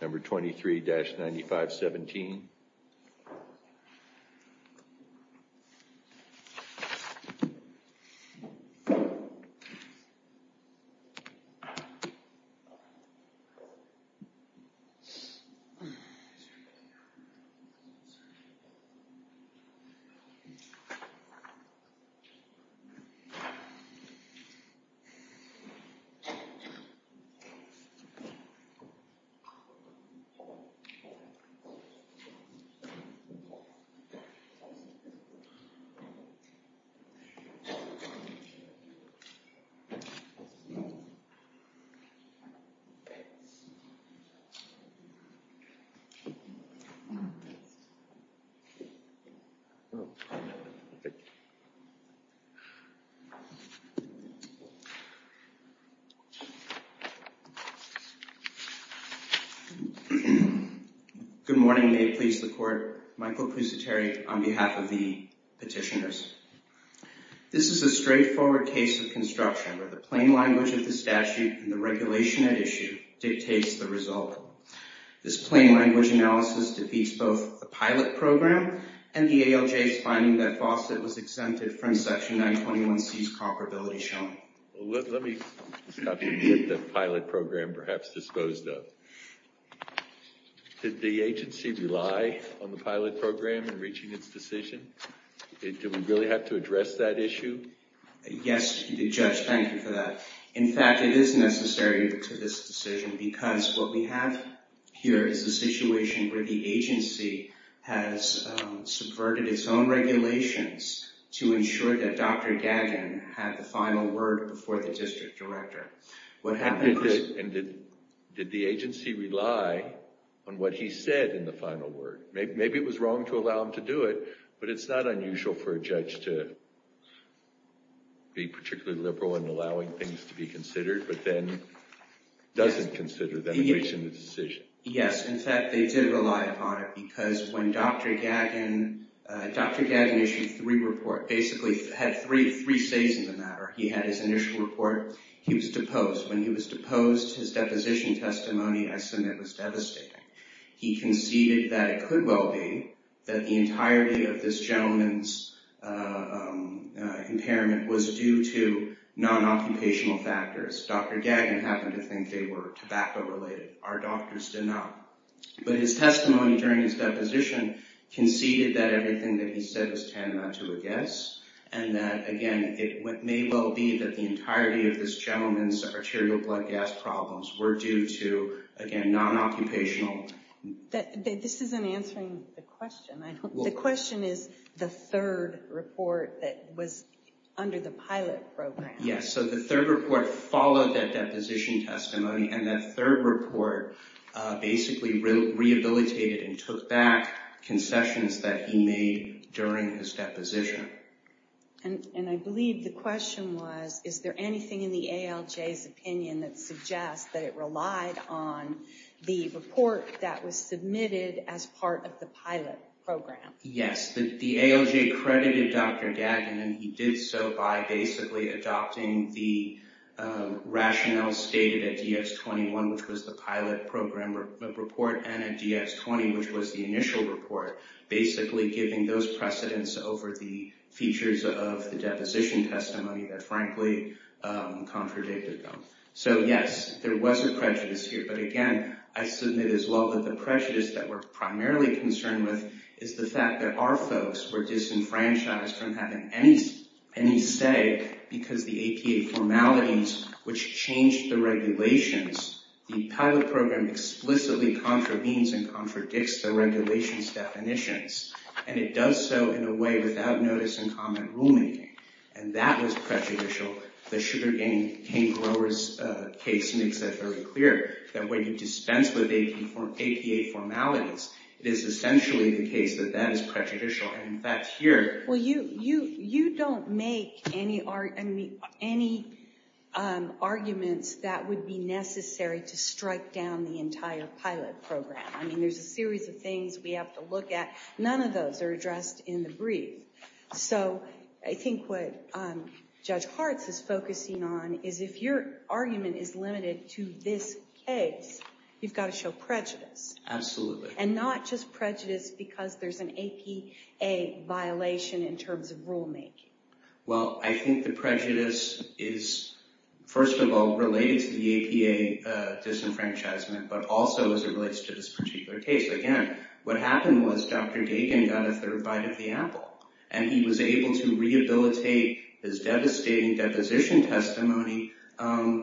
Number 23-9517. Number 23-9517. Good morning. May it please the court. Michael Pusiteri on behalf of the petitioners. This is a straightforward case of construction where the plain language of the statute and regulation at issue dictates the result. This plain language analysis defeats both the pilot program and the ALJ's finding that Fawcett was exempted from Section 921C's comparability showing. Let me stop you and get the pilot program perhaps disposed of. Did the agency rely on the pilot program in reaching its decision? Do we really have to be necessary to this decision? Because what we have here is a situation where the agency has subverted its own regulations to ensure that Dr. Gagin had the final word before the district director. What happened... Did the agency rely on what he said in the final word? Maybe it was wrong to allow him to do it, but it's not unusual for a judge to be particularly liberal in allowing things to be considered, but then doesn't consider them in reaching the decision. Yes. In fact, they did rely upon it because when Dr. Gagin... Dr. Gagin issued three reports, basically had three says in the matter. He had his initial report. He was deposed. When he was deposed, his deposition testimony I submit was devastating. He conceded that it could well be that the entirety of this gentleman's impairment was due to non-occupational factors. Dr. Gagin happened to think they were tobacco-related. Our doctors did not. But his testimony during his deposition conceded that everything that he said was tantamount to a guess, and that, again, it may well be that the entirety of this gentleman's arterial blood gas problems were due to, again, non-occupational... This isn't answering the question. The question is the third report that was under the pilot program. Yes. The third report followed that deposition testimony, and that third report basically rehabilitated and took back concessions that he made during his deposition. I believe the question was, is there anything in the ALJ's opinion that suggests that it relied on the report that was submitted as part of the pilot program? Yes. The ALJ credited Dr. Gagin, and he did so by basically adopting the rationale stated at DX21, which was the pilot program report, and at DX20, which was the initial report, basically giving those precedents over the features of the deposition testimony that, frankly, contradicted them. Yes, there was a prejudice here, but again, I submit as well that the prejudice that we're primarily concerned with is the fact that our folks were disenfranchised from having any say because the APA formalities, which changed the regulations, the pilot program explicitly contravenes and contradicts the regulations definitions, and it does so in a way without notice and comment rulemaking, and that was prejudicial. The sugar cane growers case makes that very clear, that when you dispense with APA formalities, it is essentially the case that that is prejudicial, and that's here. Well, you don't make any arguments that would be necessary to strike down the entire pilot program. I mean, there's a series of things we have to look at. None of those are addressed in the brief, so I think what Judge Hartz is focusing on is if your argument is limited to this case, you've got to show prejudice. Absolutely. And not just prejudice because there's an APA violation in terms of rulemaking. Well, I think the prejudice is, first of all, related to the APA disenfranchisement, but also as it relates to this particular case. Again, what happened was Dr. Dagan got a third bite of the apple, and he was able to rehabilitate his devastating deposition testimony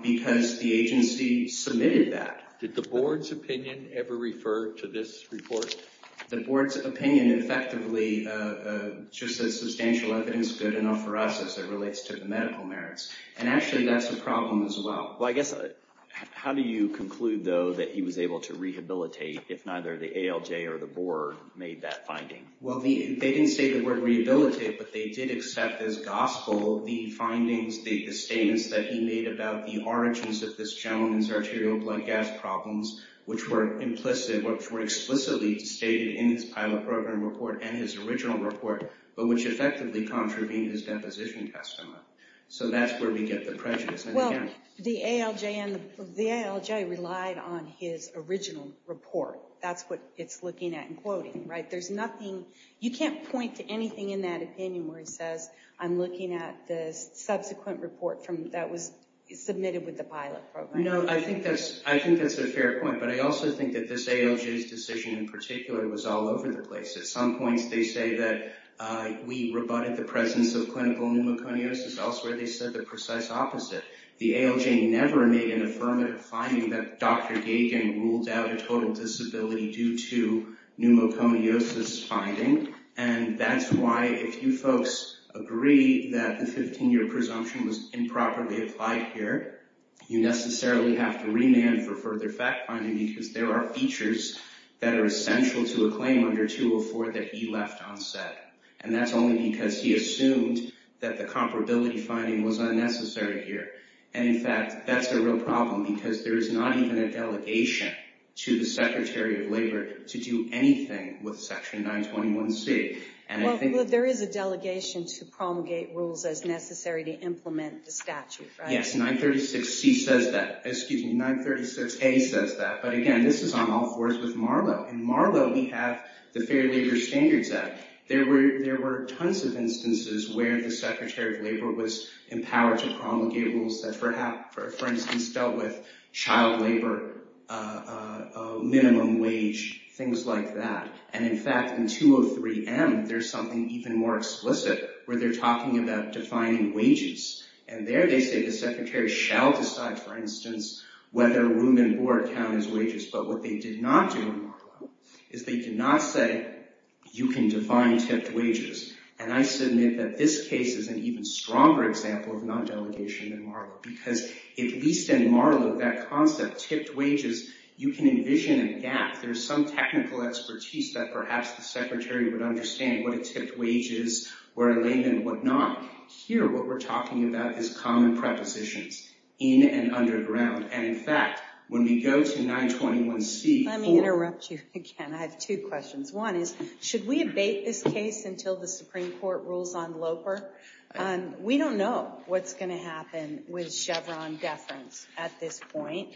because the agency submitted that. Did the board's opinion ever refer to this report? The board's opinion effectively just said substantial evidence good enough for us as it relates to the medical merits, and actually that's a problem as well. Well, I assume that he was able to rehabilitate if neither the ALJ or the board made that finding. Well, they didn't say the word rehabilitate, but they did accept as gospel the findings, the statements that he made about the origins of this gentleman's arterial blood gas problems, which were implicit, which were explicitly stated in his pilot program report and his original report, but which effectively contravened his deposition testimony. So that's where we get the prejudice. Well, the ALJ relied on his original report. That's what it's looking at and quoting, right? You can't point to anything in that opinion where he says, I'm looking at the subsequent report that was submitted with the pilot program. No, I think that's a fair point, but I also think that this ALJ's decision in particular was all over the place. At some points, they say that we rebutted the presence of clinical pneumoconiosis. Elsewhere, they said the precise opposite. The ALJ never made an affirmative finding that Dr. Gagin ruled out a total disability due to pneumoconiosis finding, and that's why if you folks agree that the 15-year presumption was improperly applied here, you necessarily have to remand for further fact-finding because there are features that are essential to a disability finding was unnecessary here. In fact, that's a real problem because there is not even a delegation to the Secretary of Labor to do anything with Section 921C. There is a delegation to promulgate rules as necessary to implement the statute, right? Yes, 936C says that. Excuse me, 936A says that, but again, this is on all fours with Marlowe. In Marlowe, we have the Fair Labor Standards Act. There were tons of instances where the Secretary of Labor was empowered to promulgate rules that, for instance, dealt with child labor, minimum wage, things like that. In fact, in 203M, there's something even more explicit where they're talking about defining wages. There, they say the Secretary shall decide, for instance, whether room and board count as wages, but what they did not do in Marlowe is they did not say you can define tipped wages, and I submit that this case is an even stronger example of non-delegation than Marlowe because, at least in Marlowe, that concept, tipped wages, you can envision a gap. There's some technical expertise that perhaps the Secretary would understand what a tipped wage is, where a layman would not. Here, what we're talking about is common prepositions in and underground, and in fact, when we go to 921C... Let me interrupt you again. I have two questions. One is, should we abate this case until the Supreme Court rules on Loper? We don't know what's going to happen with Chevron deference at this point,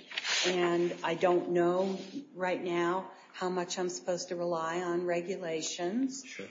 and I don't know right now how much I'm supposed to rely on regulations. Sure.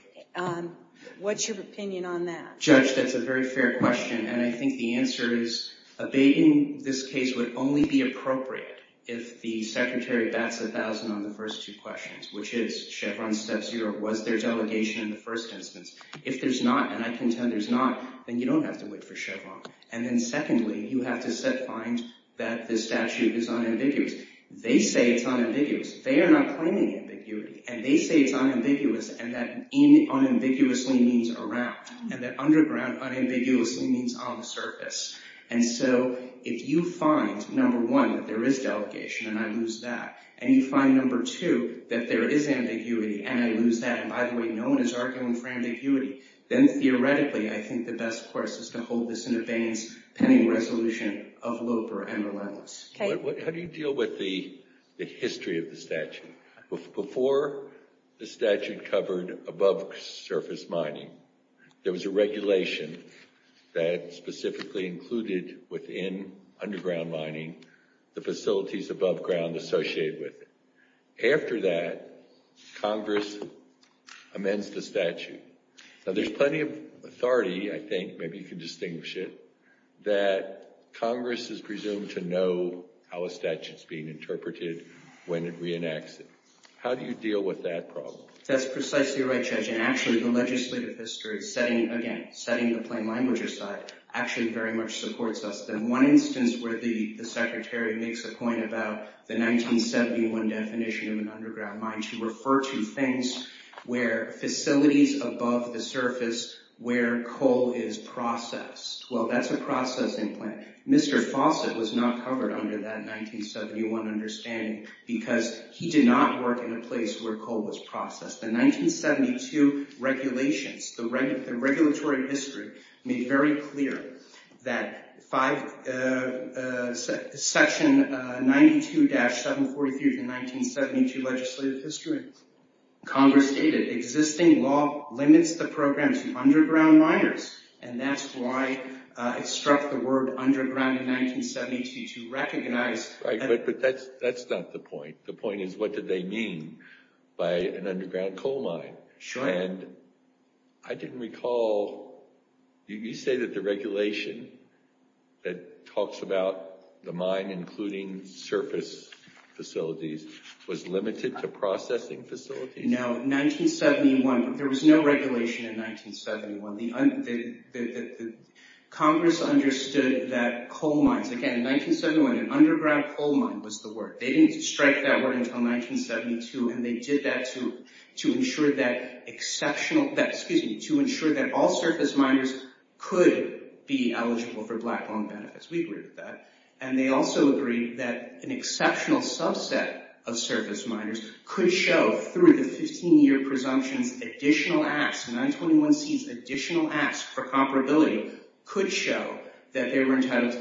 What's your opinion on that? Judge, that's a very fair question, and I think the answer is abating this case would only be appropriate if the Secretary bats a thousand on the first two questions, which is, Chevron step zero, was there delegation in the first instance? If there's not, and I contend there's not, then you don't have to wait for Chevron, and then secondly, you have to find that this statute is unambiguous. They say it's unambiguous. They are not claiming ambiguity, and they say it's unambiguous, and that unambiguously means around, and that you find, number one, that there is delegation, and I lose that, and you find, number two, that there is ambiguity, and I lose that, and by the way, no one is arguing for ambiguity. Then theoretically, I think the best course is to hold this in abeyance, pending resolution of Loper and relentless. How do you deal with the history of the statute? Before the statute covered above-surface mining, there was a regulation that specifically included within underground mining the facilities above ground associated with it. After that, Congress amends the statute. Now, there's plenty of authority, I think, maybe you can distinguish it, that Congress is presumed to know how a statute is being interpreted when it reenacts it. How do you deal with that problem? That's precisely right, Judge, and actually, the legislative history, again, setting the plain language aside, actually very much supports us. The one instance where the Secretary makes a point about the 1971 definition of an underground mine to refer to things where facilities above the surface where coal is processed. Well, that's a processing plant. Mr. Fawcett was not covered under that 1971 understanding because he did not work in a process. The 1972 regulations, the regulatory history made very clear that Section 92-743 of the 1972 legislative history, Congress stated existing law limits the program to underground miners, and that's why it struck the word underground in 1972 to recognize But that's not the point. The point is, what did they mean by an underground coal mine? Sure. And I didn't recall, you say that the regulation that talks about the mine including surface facilities was limited to processing facilities? No, 1971, there was no regulation in 1971. Congress understood that coal mines, again, 1971, an underground coal mine was the word. They didn't strike that word until 1972, and they did that to ensure that all surface miners could be eligible for black loan benefits. We agreed with that. And they also agreed that an exceptional subset of surface miners could show through the 15-year presumptions additional acts, 921C's additional acts for the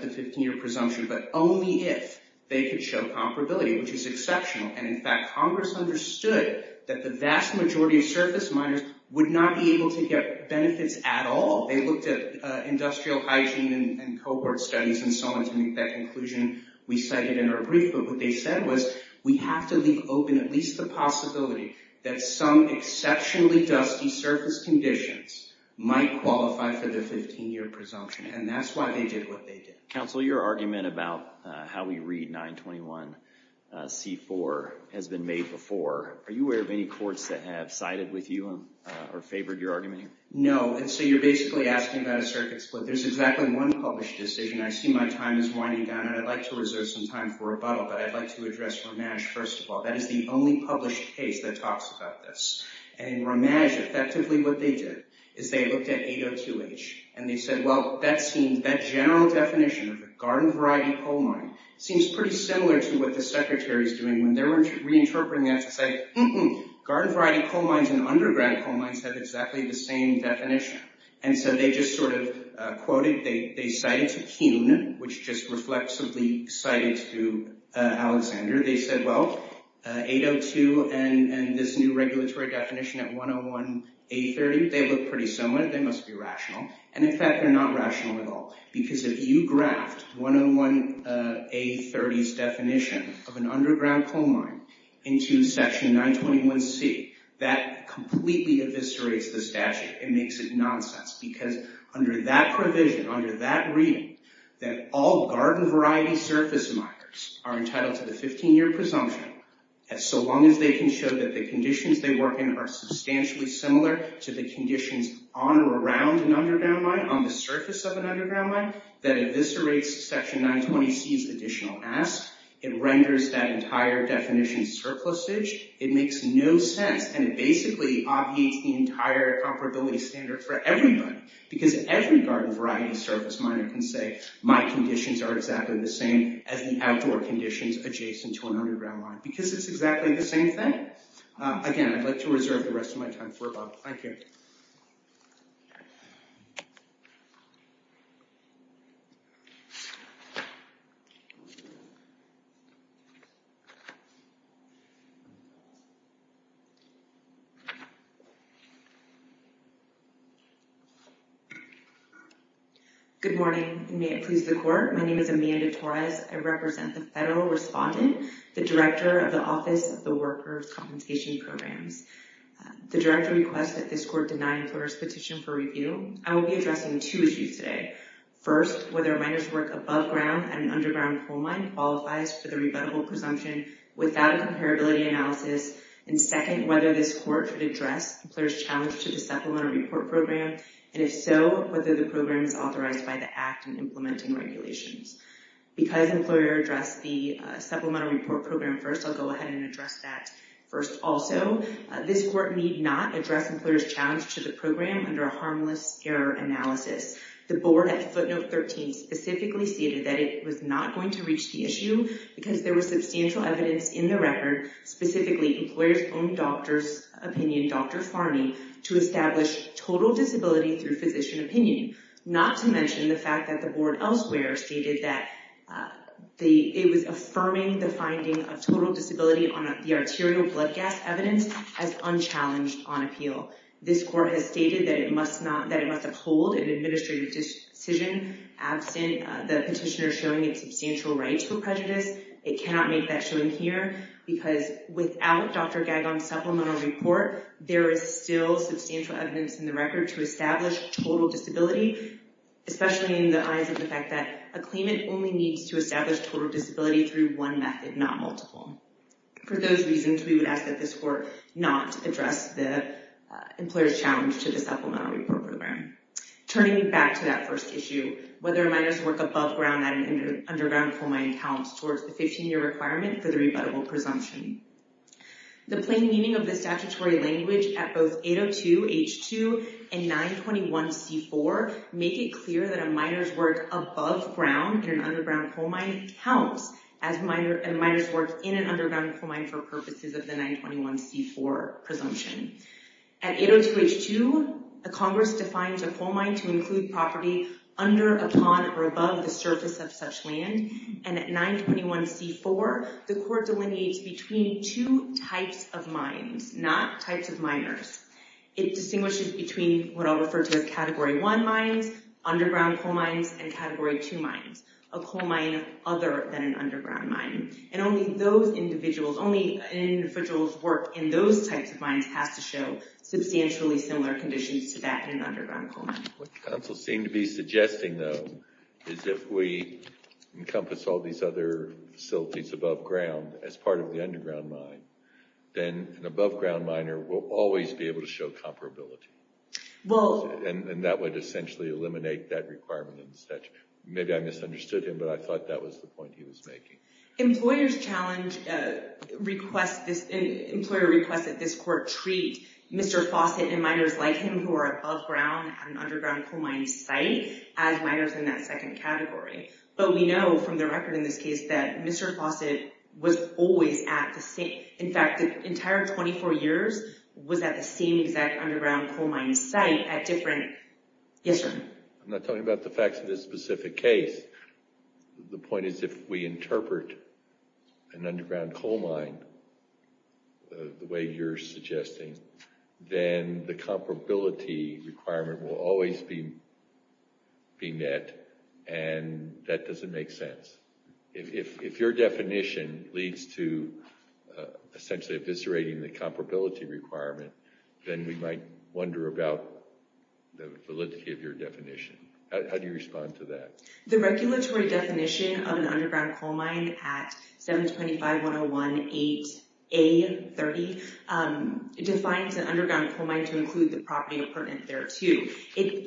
15-year presumption, but only if they could show comparability, which is exceptional. And in fact, Congress understood that the vast majority of surface miners would not be able to get benefits at all. They looked at industrial hygiene and cohort studies and so on to make that conclusion we cited in our brief, but what they said was we have to leave open at least the possibility that some exceptionally dusty surface conditions might qualify for the 15-year presumption, and that's why they did what they did. Counsel, your argument about how we read 921C4 has been made before. Are you aware of any courts that have sided with you or favored your argument here? No, and so you're basically asking about a circuit split. There's exactly one published decision. I see my time is winding down, and I'd like to reserve some time for rebuttal, but I'd like to address Ramaj first of all. That is the only published case that talks about this. And Ramaj, effectively what they did is they looked at 802H, and they said, well, that general definition of a garden variety coal mine seems pretty similar to what the Secretary's doing when they were reinterpreting that to say, garden variety coal mines and underground coal mines have exactly the same definition. And so they just sort of quoted, they cited to Kuhn, which just reflexively cited to Alexander. They said, well, 802 and this new regulatory definition at 101A30, they look pretty similar. They must be rational. And in fact, they're not rational at all. Because if you graphed 101A30's definition of an underground coal mine into section 921C, that completely eviscerates the statute. It makes it nonsense. Because under that provision, under that reading, that all garden variety surface miners are entitled to the 15-year presumption as so long as they can show that the conditions they work in are substantially similar to the conditions on or around an underground mine, on the surface of an underground mine, that eviscerates section 921C's additional ask. It renders that entire definition surplusage. It makes no sense. And it basically obviates the entire comparability standard for everybody. Because every garden variety surface miner can say, my conditions are exactly the same as the outdoor conditions adjacent to an underground mine. Because it's exactly the same thing. Again, I'd like to reserve the rest of my time for Bob. Thank you. Good morning. May it please the Court. My name is Amanda Torres. I represent the Federal Correspondent, the Director of the Office of the Workers' Compensation Programs. The Director requests that this Court deny the employer's petition for review. I will be addressing two issues today. First, whether a miner's work above ground at an underground coal mine qualifies for the rebuttable presumption without a comparability analysis. And second, whether this Court should address the employer's challenge to the supplemental report program. And if so, whether the program is authorized by the Act in implementing regulations. Because employer addressed the supplemental report program first, I'll go ahead and address that first also. This Court need not address employer's challenge to the program under a harmless error analysis. The Board at footnote 13 specifically stated that it was not going to reach the issue because there was substantial evidence in the record, specifically employer's own doctor's opinion, Dr. Farney, to establish total disability through physician opinion. Not to mention the fact that the Board elsewhere stated that it was affirming the finding of total disability on the arterial blood gas evidence as unchallenged on appeal. This Court has stated that it must uphold an administrative decision absent the petitioner showing a substantial right to prejudice. It cannot make that showing here because without Dr. Gagon's supplemental report, there is still substantial evidence in the record to establish total disability, especially in the eyes of the fact that a claimant only needs to establish total disability through one method, not multiple. For those reasons, we would ask that this Court not address the employer's challenge to the supplemental report program. Turning back to that first issue, whether a miner's work above ground at an underground coal mine counts towards the 15-year requirement for the rebuttable presumption. The plain meaning of the statutory language at both 802 H2 and 921 C4 make it clear that a miner's work above ground in an underground coal mine counts as a miner's work in an underground coal mine for purposes of the 921 C4 presumption. At 802 H2, Congress defines a coal mine to include property under, upon, or above the surface of such land, and at 921 C4, the Court delineates between two types of mines, not types of miners. It distinguishes between what I'll refer to as Category 1 mines, underground coal mines, and Category 2 mines, a coal mine other than an underground mine. Only an individual's work in those types of mines has to show substantially What counsel seemed to be suggesting, though, is if we encompass all these other facilities above ground as part of the underground mine, then an above ground miner will always be able to show comparability. And that would essentially eliminate that requirement in the statute. Maybe I misunderstood him, but I thought that was the point he was making. Employer's challenge requests that this Court treat Mr. Fawcett and miners like him who are above ground at an underground coal mine site as miners in that second category. But we know from the record in this case that Mr. Fawcett was always at the same, in fact, the entire 24 years was at the same exact underground coal mine site at different, yes sir? I'm not talking about the facts of this specific case. The point is if we interpret an underground coal mine the way you're suggesting, then the comparability requirement will always be met, and that doesn't make sense. If your definition leads to essentially eviscerating the comparability requirement, then we might wonder about the validity of your definition. How do you respond to that? The regulatory definition of an underground coal mine at 725-101-8A30 defines an underground coal mine to include the property pertinent thereto.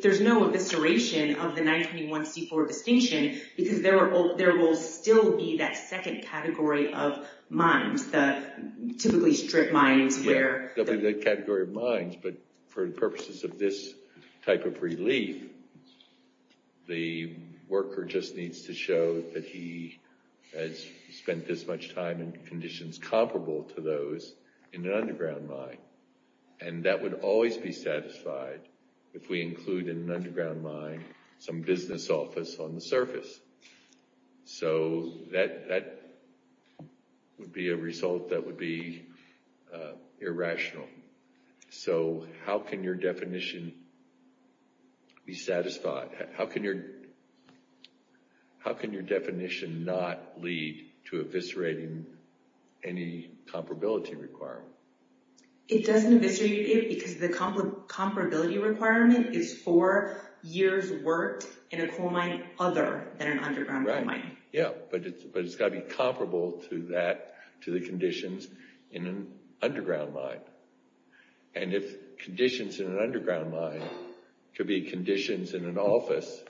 There's no evisceration of the 921-C4 distinction, because there will still be that second category of mines, the typically strip mines. But for purposes of this type of relief, the worker just needs to show that he has spent this much time in conditions comparable to those in an underground mine. And that would always be satisfied if we include in an underground mine some business office on the surface. So that would be a result that would be irrational. So how can your definition be satisfied? How can your definition not lead to eviscerating any comparability requirement? It doesn't eviscerate it because the comparability requirement is four years worked in a coal mine other than an underground coal mine. Yeah, but it's got to be comparable to the conditions in an underground mine. And if conditions in an underground mine could be conditions in an office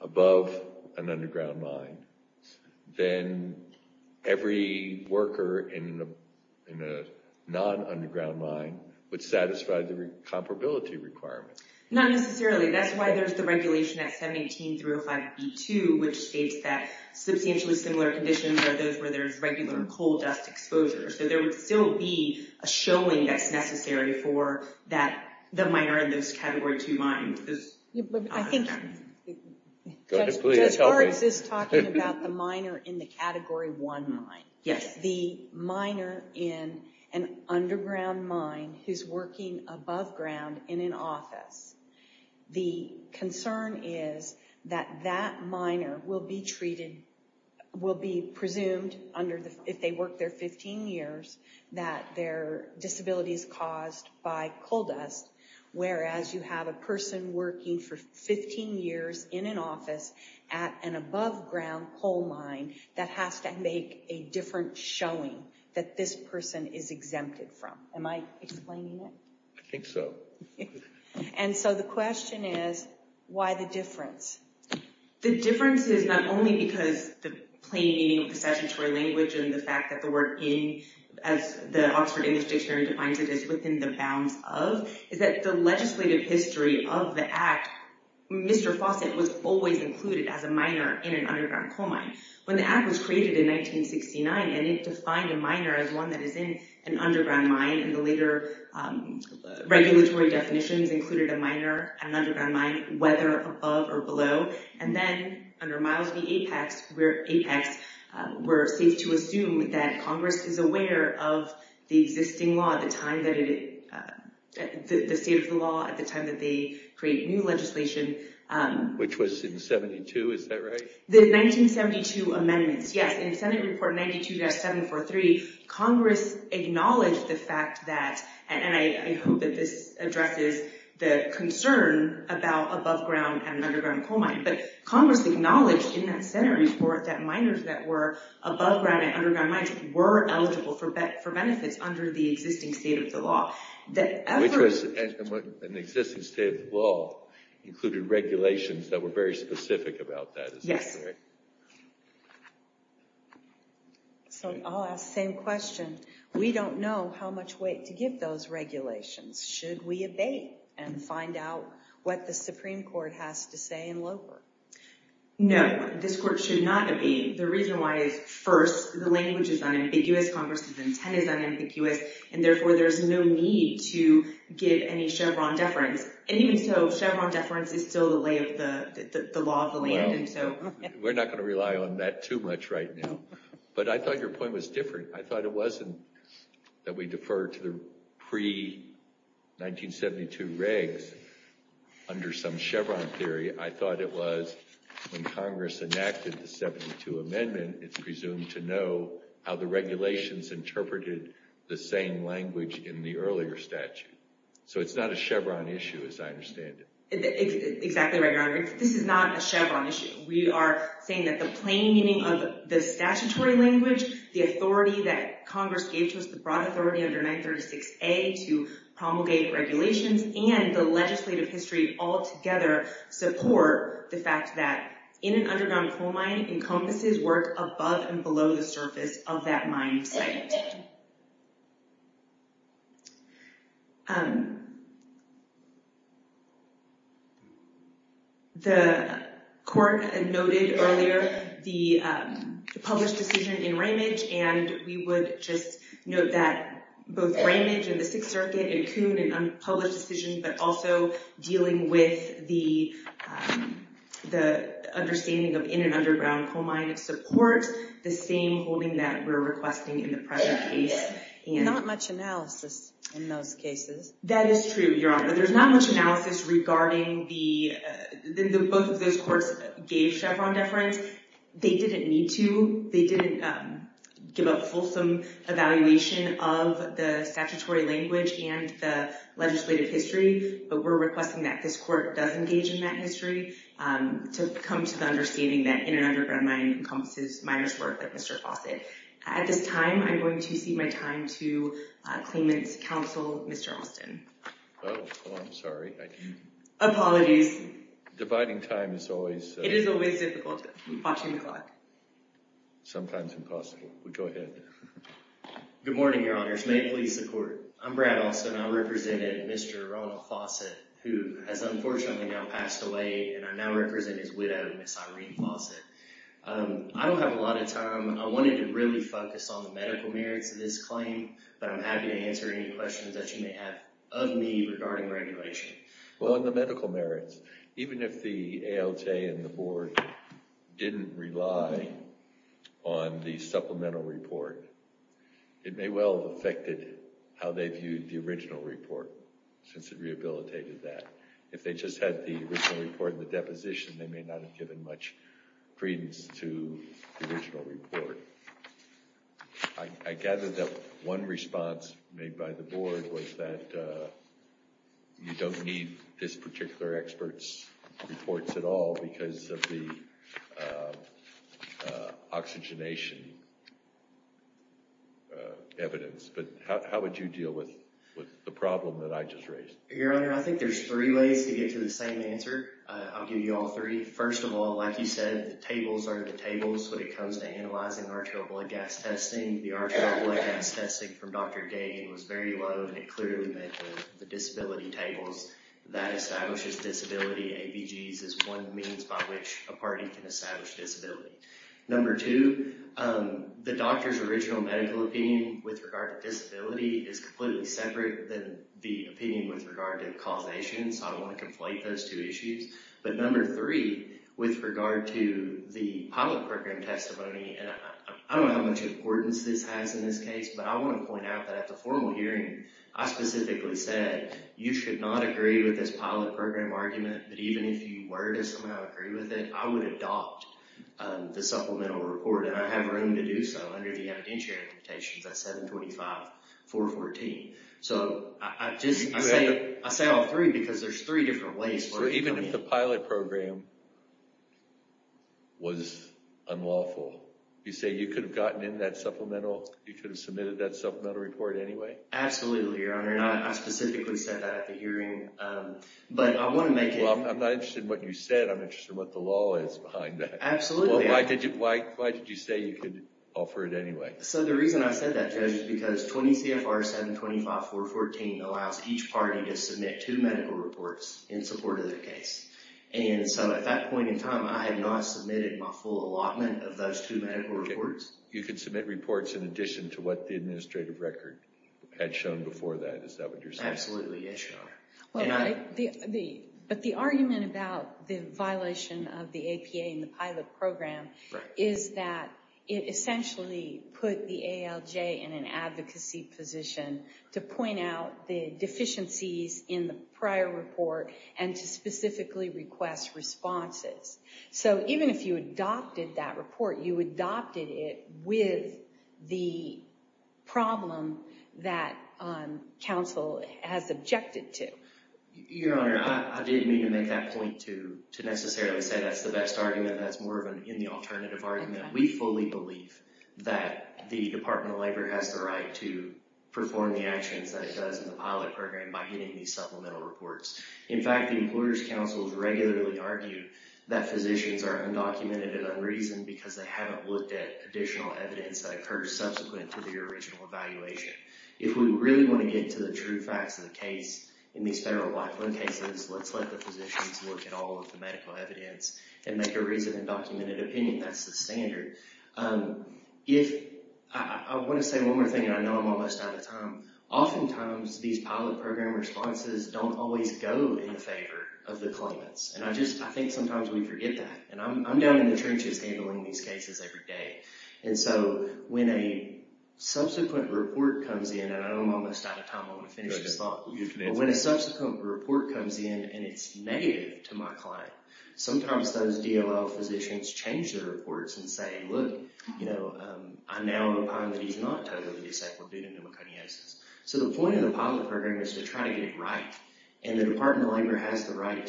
above an underground mine, then every worker in a non-underground mine would satisfy the comparability requirement. Not necessarily. That's why there's the regulation at 17305B2, which states that substantially similar conditions are those where there's regular coal dust exposure. So there would still be a showing that's necessary for the miner in those Category 2 mines. I think Judge Hartz is talking about the miner in the Category 1 mine. The miner in an underground mine who's working above ground in an office. The concern is that that miner will be treated, will be presumed if they work there 15 years, that their disability is caused by coal dust. Whereas you have a person working for 15 years in an office at an above ground coal mine that has to make a different showing that this person is exempted from. Am I explaining it? I think so. And so the question is, why the difference? The difference is not only because the plain meaning of the statutory language and the fact that the word in, as the Oxford English Dictionary defines it, is within the bounds of, is that the legislative history of the Act, Mr. Fawcett was always included as a miner in an underground coal mine. When the Act was created in 1969 and it defined a miner as one that is in an underground mine and the later regulatory definitions included a miner and an underground mine, whether above or below. And then under Miles V. Apex, we're safe to assume that Congress is aware of the existing law at the time that it, the state of the law at the time that they create new legislation. Which was in 72, is that right? The 1972 amendments, yes. In Senate Report 92-743, Congress acknowledged the fact that, and I hope that this isn't a concern about above ground and underground coal mines, but Congress acknowledged in that Senate report that miners that were above ground and underground mines were eligible for benefits under the existing state of the law. Which was an existing state of the law included regulations that were very specific about that. Yes. So I'll ask the same question. We don't know how much weight to give those regulations. Should we abate and find out what the Supreme Court has to say in low court? No, this court should not abate. The reason why is, first, the language is unambiguous, Congress's intent is unambiguous, and therefore there's no need to give any Chevron deference. And even so, Chevron deference is still the law of the land. We're not going to rely on that too much right now. But I thought your point was different. I thought it wasn't that we deferred to the pre-1972 regs under some Chevron theory. I thought it was when Congress enacted the 72 amendment, it's presumed to know how the regulations interpreted the same language in the earlier statute. So it's not a Chevron issue as I understand it. Exactly right, Your Honor. This is not a Chevron issue. We are saying that the plain meaning of the statutory language, the authority that Congress gave to us, the broad authority under 936A to promulgate regulations, and the legislative history altogether support the fact that in an underground coal mine encompasses work above and below the surface of that mine site. The court noted earlier the published decision in Ramage, and we would just note that both Ramage and the Sixth Circuit and Coon and unpublished decisions, but also dealing with the understanding of in an underground coal mine support the same holding that we're requesting in the present case. Not much analysis in those cases. That is true, Your Honor. There's not much analysis regarding the—both of those courts gave Chevron deference. They didn't need to. They didn't give a fulsome evaluation of the statutory language and the legislative history, but we're requesting that this court does engage in that history to come to the understanding that in an underground mine encompasses miners' work like Mr. Fawcett. At this time, I'm going to cede my time to Claimant's Counsel, Mr. Alston. Oh, I'm sorry. I didn't— Apologies. Dividing time is always— It is always difficult watching the clock. Sometimes impossible. Go ahead. Good morning, Your Honors. May it please the Court. I'm Brad Alston. I'm representing Mr. Ronald Fawcett, who has unfortunately now passed away, and I now represent his widow, Ms. Irene Fawcett. I don't have a lot of time. I wanted to really focus on the medical merits of this claim, but I'm happy to answer any questions that you may have of me regarding regulation. Well, on the medical merits, even if the ALJ and the Board didn't rely on the supplemental report, it may well have affected how they viewed the original report since it rehabilitated that. If they just had the original report and the deposition, they may not have given much credence to the original report. I gather that one response made by the Board was that you don't need this particular expert's reports at all because of the oxygenation evidence. But how would you deal with the problem that I just raised? Your Honor, I think there's three ways to get to the same answer. I'll give you all three. First of all, like you said, the tables are the tables when it comes to analyzing arterial blood gas testing. The arterial blood gas testing from Dr. Dagan was very low, and it clearly met with the disability tables. That establishes disability. ABGs is one means by which a party can establish disability. Number two, the doctor's original medical opinion with regard to disability is completely separate than the opinion with regard to causation, so I don't want to conflate those two issues. But number three, with regard to the pilot program testimony, and I don't know how much importance this has in this case, but I want to point out that at the formal hearing, I specifically said you should not agree with this pilot program argument, but even if you were to somehow agree with it, I would adopt the supplemental report, and I have room to do so under the evidentiary limitations at 725.414. So I say all three because there's three different ways. So even if the pilot program was unlawful, you say you could have gotten in that supplemental, you could have submitted that supplemental report anyway? Absolutely, Your Honor, and I specifically said that at the hearing. Well, I'm not interested in what you said. I'm interested in what the law is behind that. Absolutely. Well, why did you say you could offer it anyway? So the reason I said that, Judge, is because 20 CFR 725.414 allows each party to submit two medical reports in support of their case. And so at that point in time, I had not submitted my full allotment of those two medical reports. You could submit reports in addition to what the administrative record had shown before that. Is that what you're saying? Absolutely, yes, Your Honor. But the argument about the violation of the APA in the pilot program is that it essentially put the ALJ in an advocacy position to point out the deficiencies in the prior report and to specifically request responses. So even if you adopted that report, you adopted it with the problem that counsel has objected to. Your Honor, I didn't mean to make that point to necessarily say that's the best argument. That's more in the alternative argument. We fully believe that the Department of Labor has the right to perform the actions that it does in the pilot program by getting these supplemental reports. In fact, the Employers Council has regularly argued that physicians are undocumented and unreasoned because they haven't looked at additional evidence that occurred subsequent to the original evaluation. If we really want to get to the true facts of the case in these federal black loan cases, let's let the physicians look at all of the medical evidence and make a reasoned and documented opinion. That's the standard. I want to say one more thing, and I know I'm almost out of time. Oftentimes, these pilot program responses don't always go in favor of the claimants. I think sometimes we forget that. I'm down in the trenches handling these cases every day. So when a subsequent report comes in, and I know I'm almost out of time. I want to finish this thought. When a subsequent report comes in and it's negative to my client, sometimes those DLL physicians change their reports and say, I now find that he's not totally disabled due to pneumoconiosis. So the point of the pilot program is to try to get it right, and the Department of Labor has the right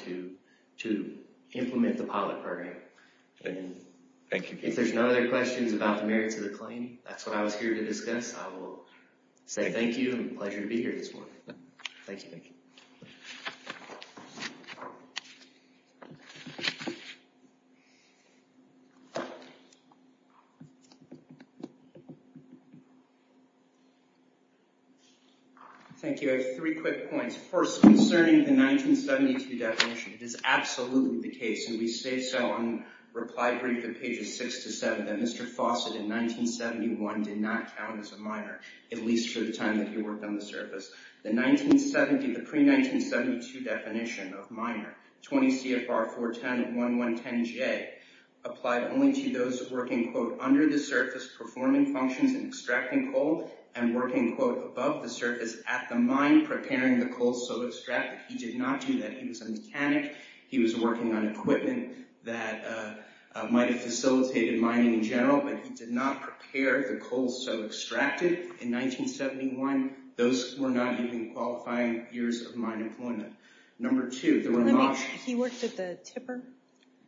to implement the pilot program. If there's no other questions about the merits of the claim, that's what I was here to discuss. I will say thank you and a pleasure to be here this morning. Thank you. Thank you. I have three quick points. First, concerning the 1972 definition, it is absolutely the case, and we say so on reply brief at pages six to seven, that Mr. Fawcett, in 1971, did not count as a minor, at least for the time that he worked on the service. The pre-1972 definition of minor, 20 CFR 4101110J, applied only to those working, quote, under the surface, performing functions and extracting coal, and working, quote, above the surface, at the mine, preparing the coal so extracted. He did not do that. He was a mechanic. He was working on equipment that might have facilitated mining in general, but he did not prepare the coal so extracted. In 1971, those were not even qualifying years of minor employment. Number two, there were not— He worked at the tipper?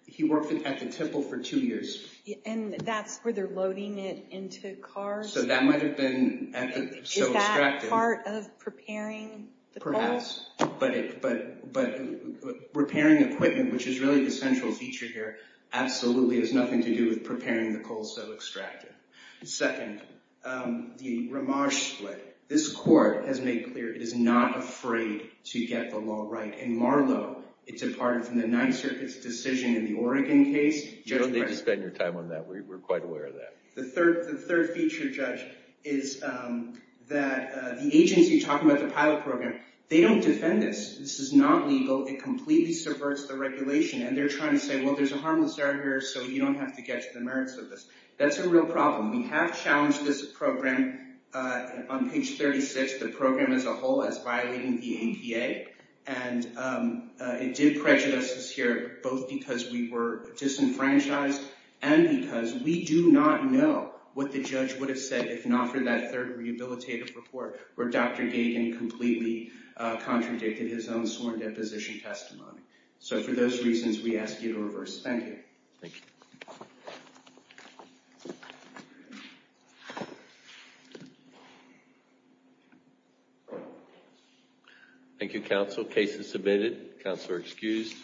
He worked at the tipper for two years. And that's where they're loading it into cars? So that might have been so extracted. Is that part of preparing the coal? Perhaps, but repairing equipment, which is really the central feature here, absolutely has nothing to do with preparing the coal so extracted. Second, the Ramaj split. This court has made clear it is not afraid to get the law right, and Marlow, it's a part of the Ninth Circuit's decision in the Oregon case. You don't need to spend your time on that. We're quite aware of that. The third feature, Judge, is that the agency talking about the pilot program, they don't defend this. This is not legal. It completely subverts the regulation, and they're trying to say, well, there's a harmless error here, so you don't have to get to the merits of this. That's a real problem. We have challenged this program. On page 36, the program as a whole is violating the NPA, and it did prejudice us here, both because we were disenfranchised and because we do not know what the judge would have said if not for that third rehabilitative report where Dr. Gagin completely contradicted his own sworn deposition testimony. For those reasons, we ask you to reverse. Thank you. Thank you. Thank you. Thank you, counsel. Case is submitted. Counsel are excused.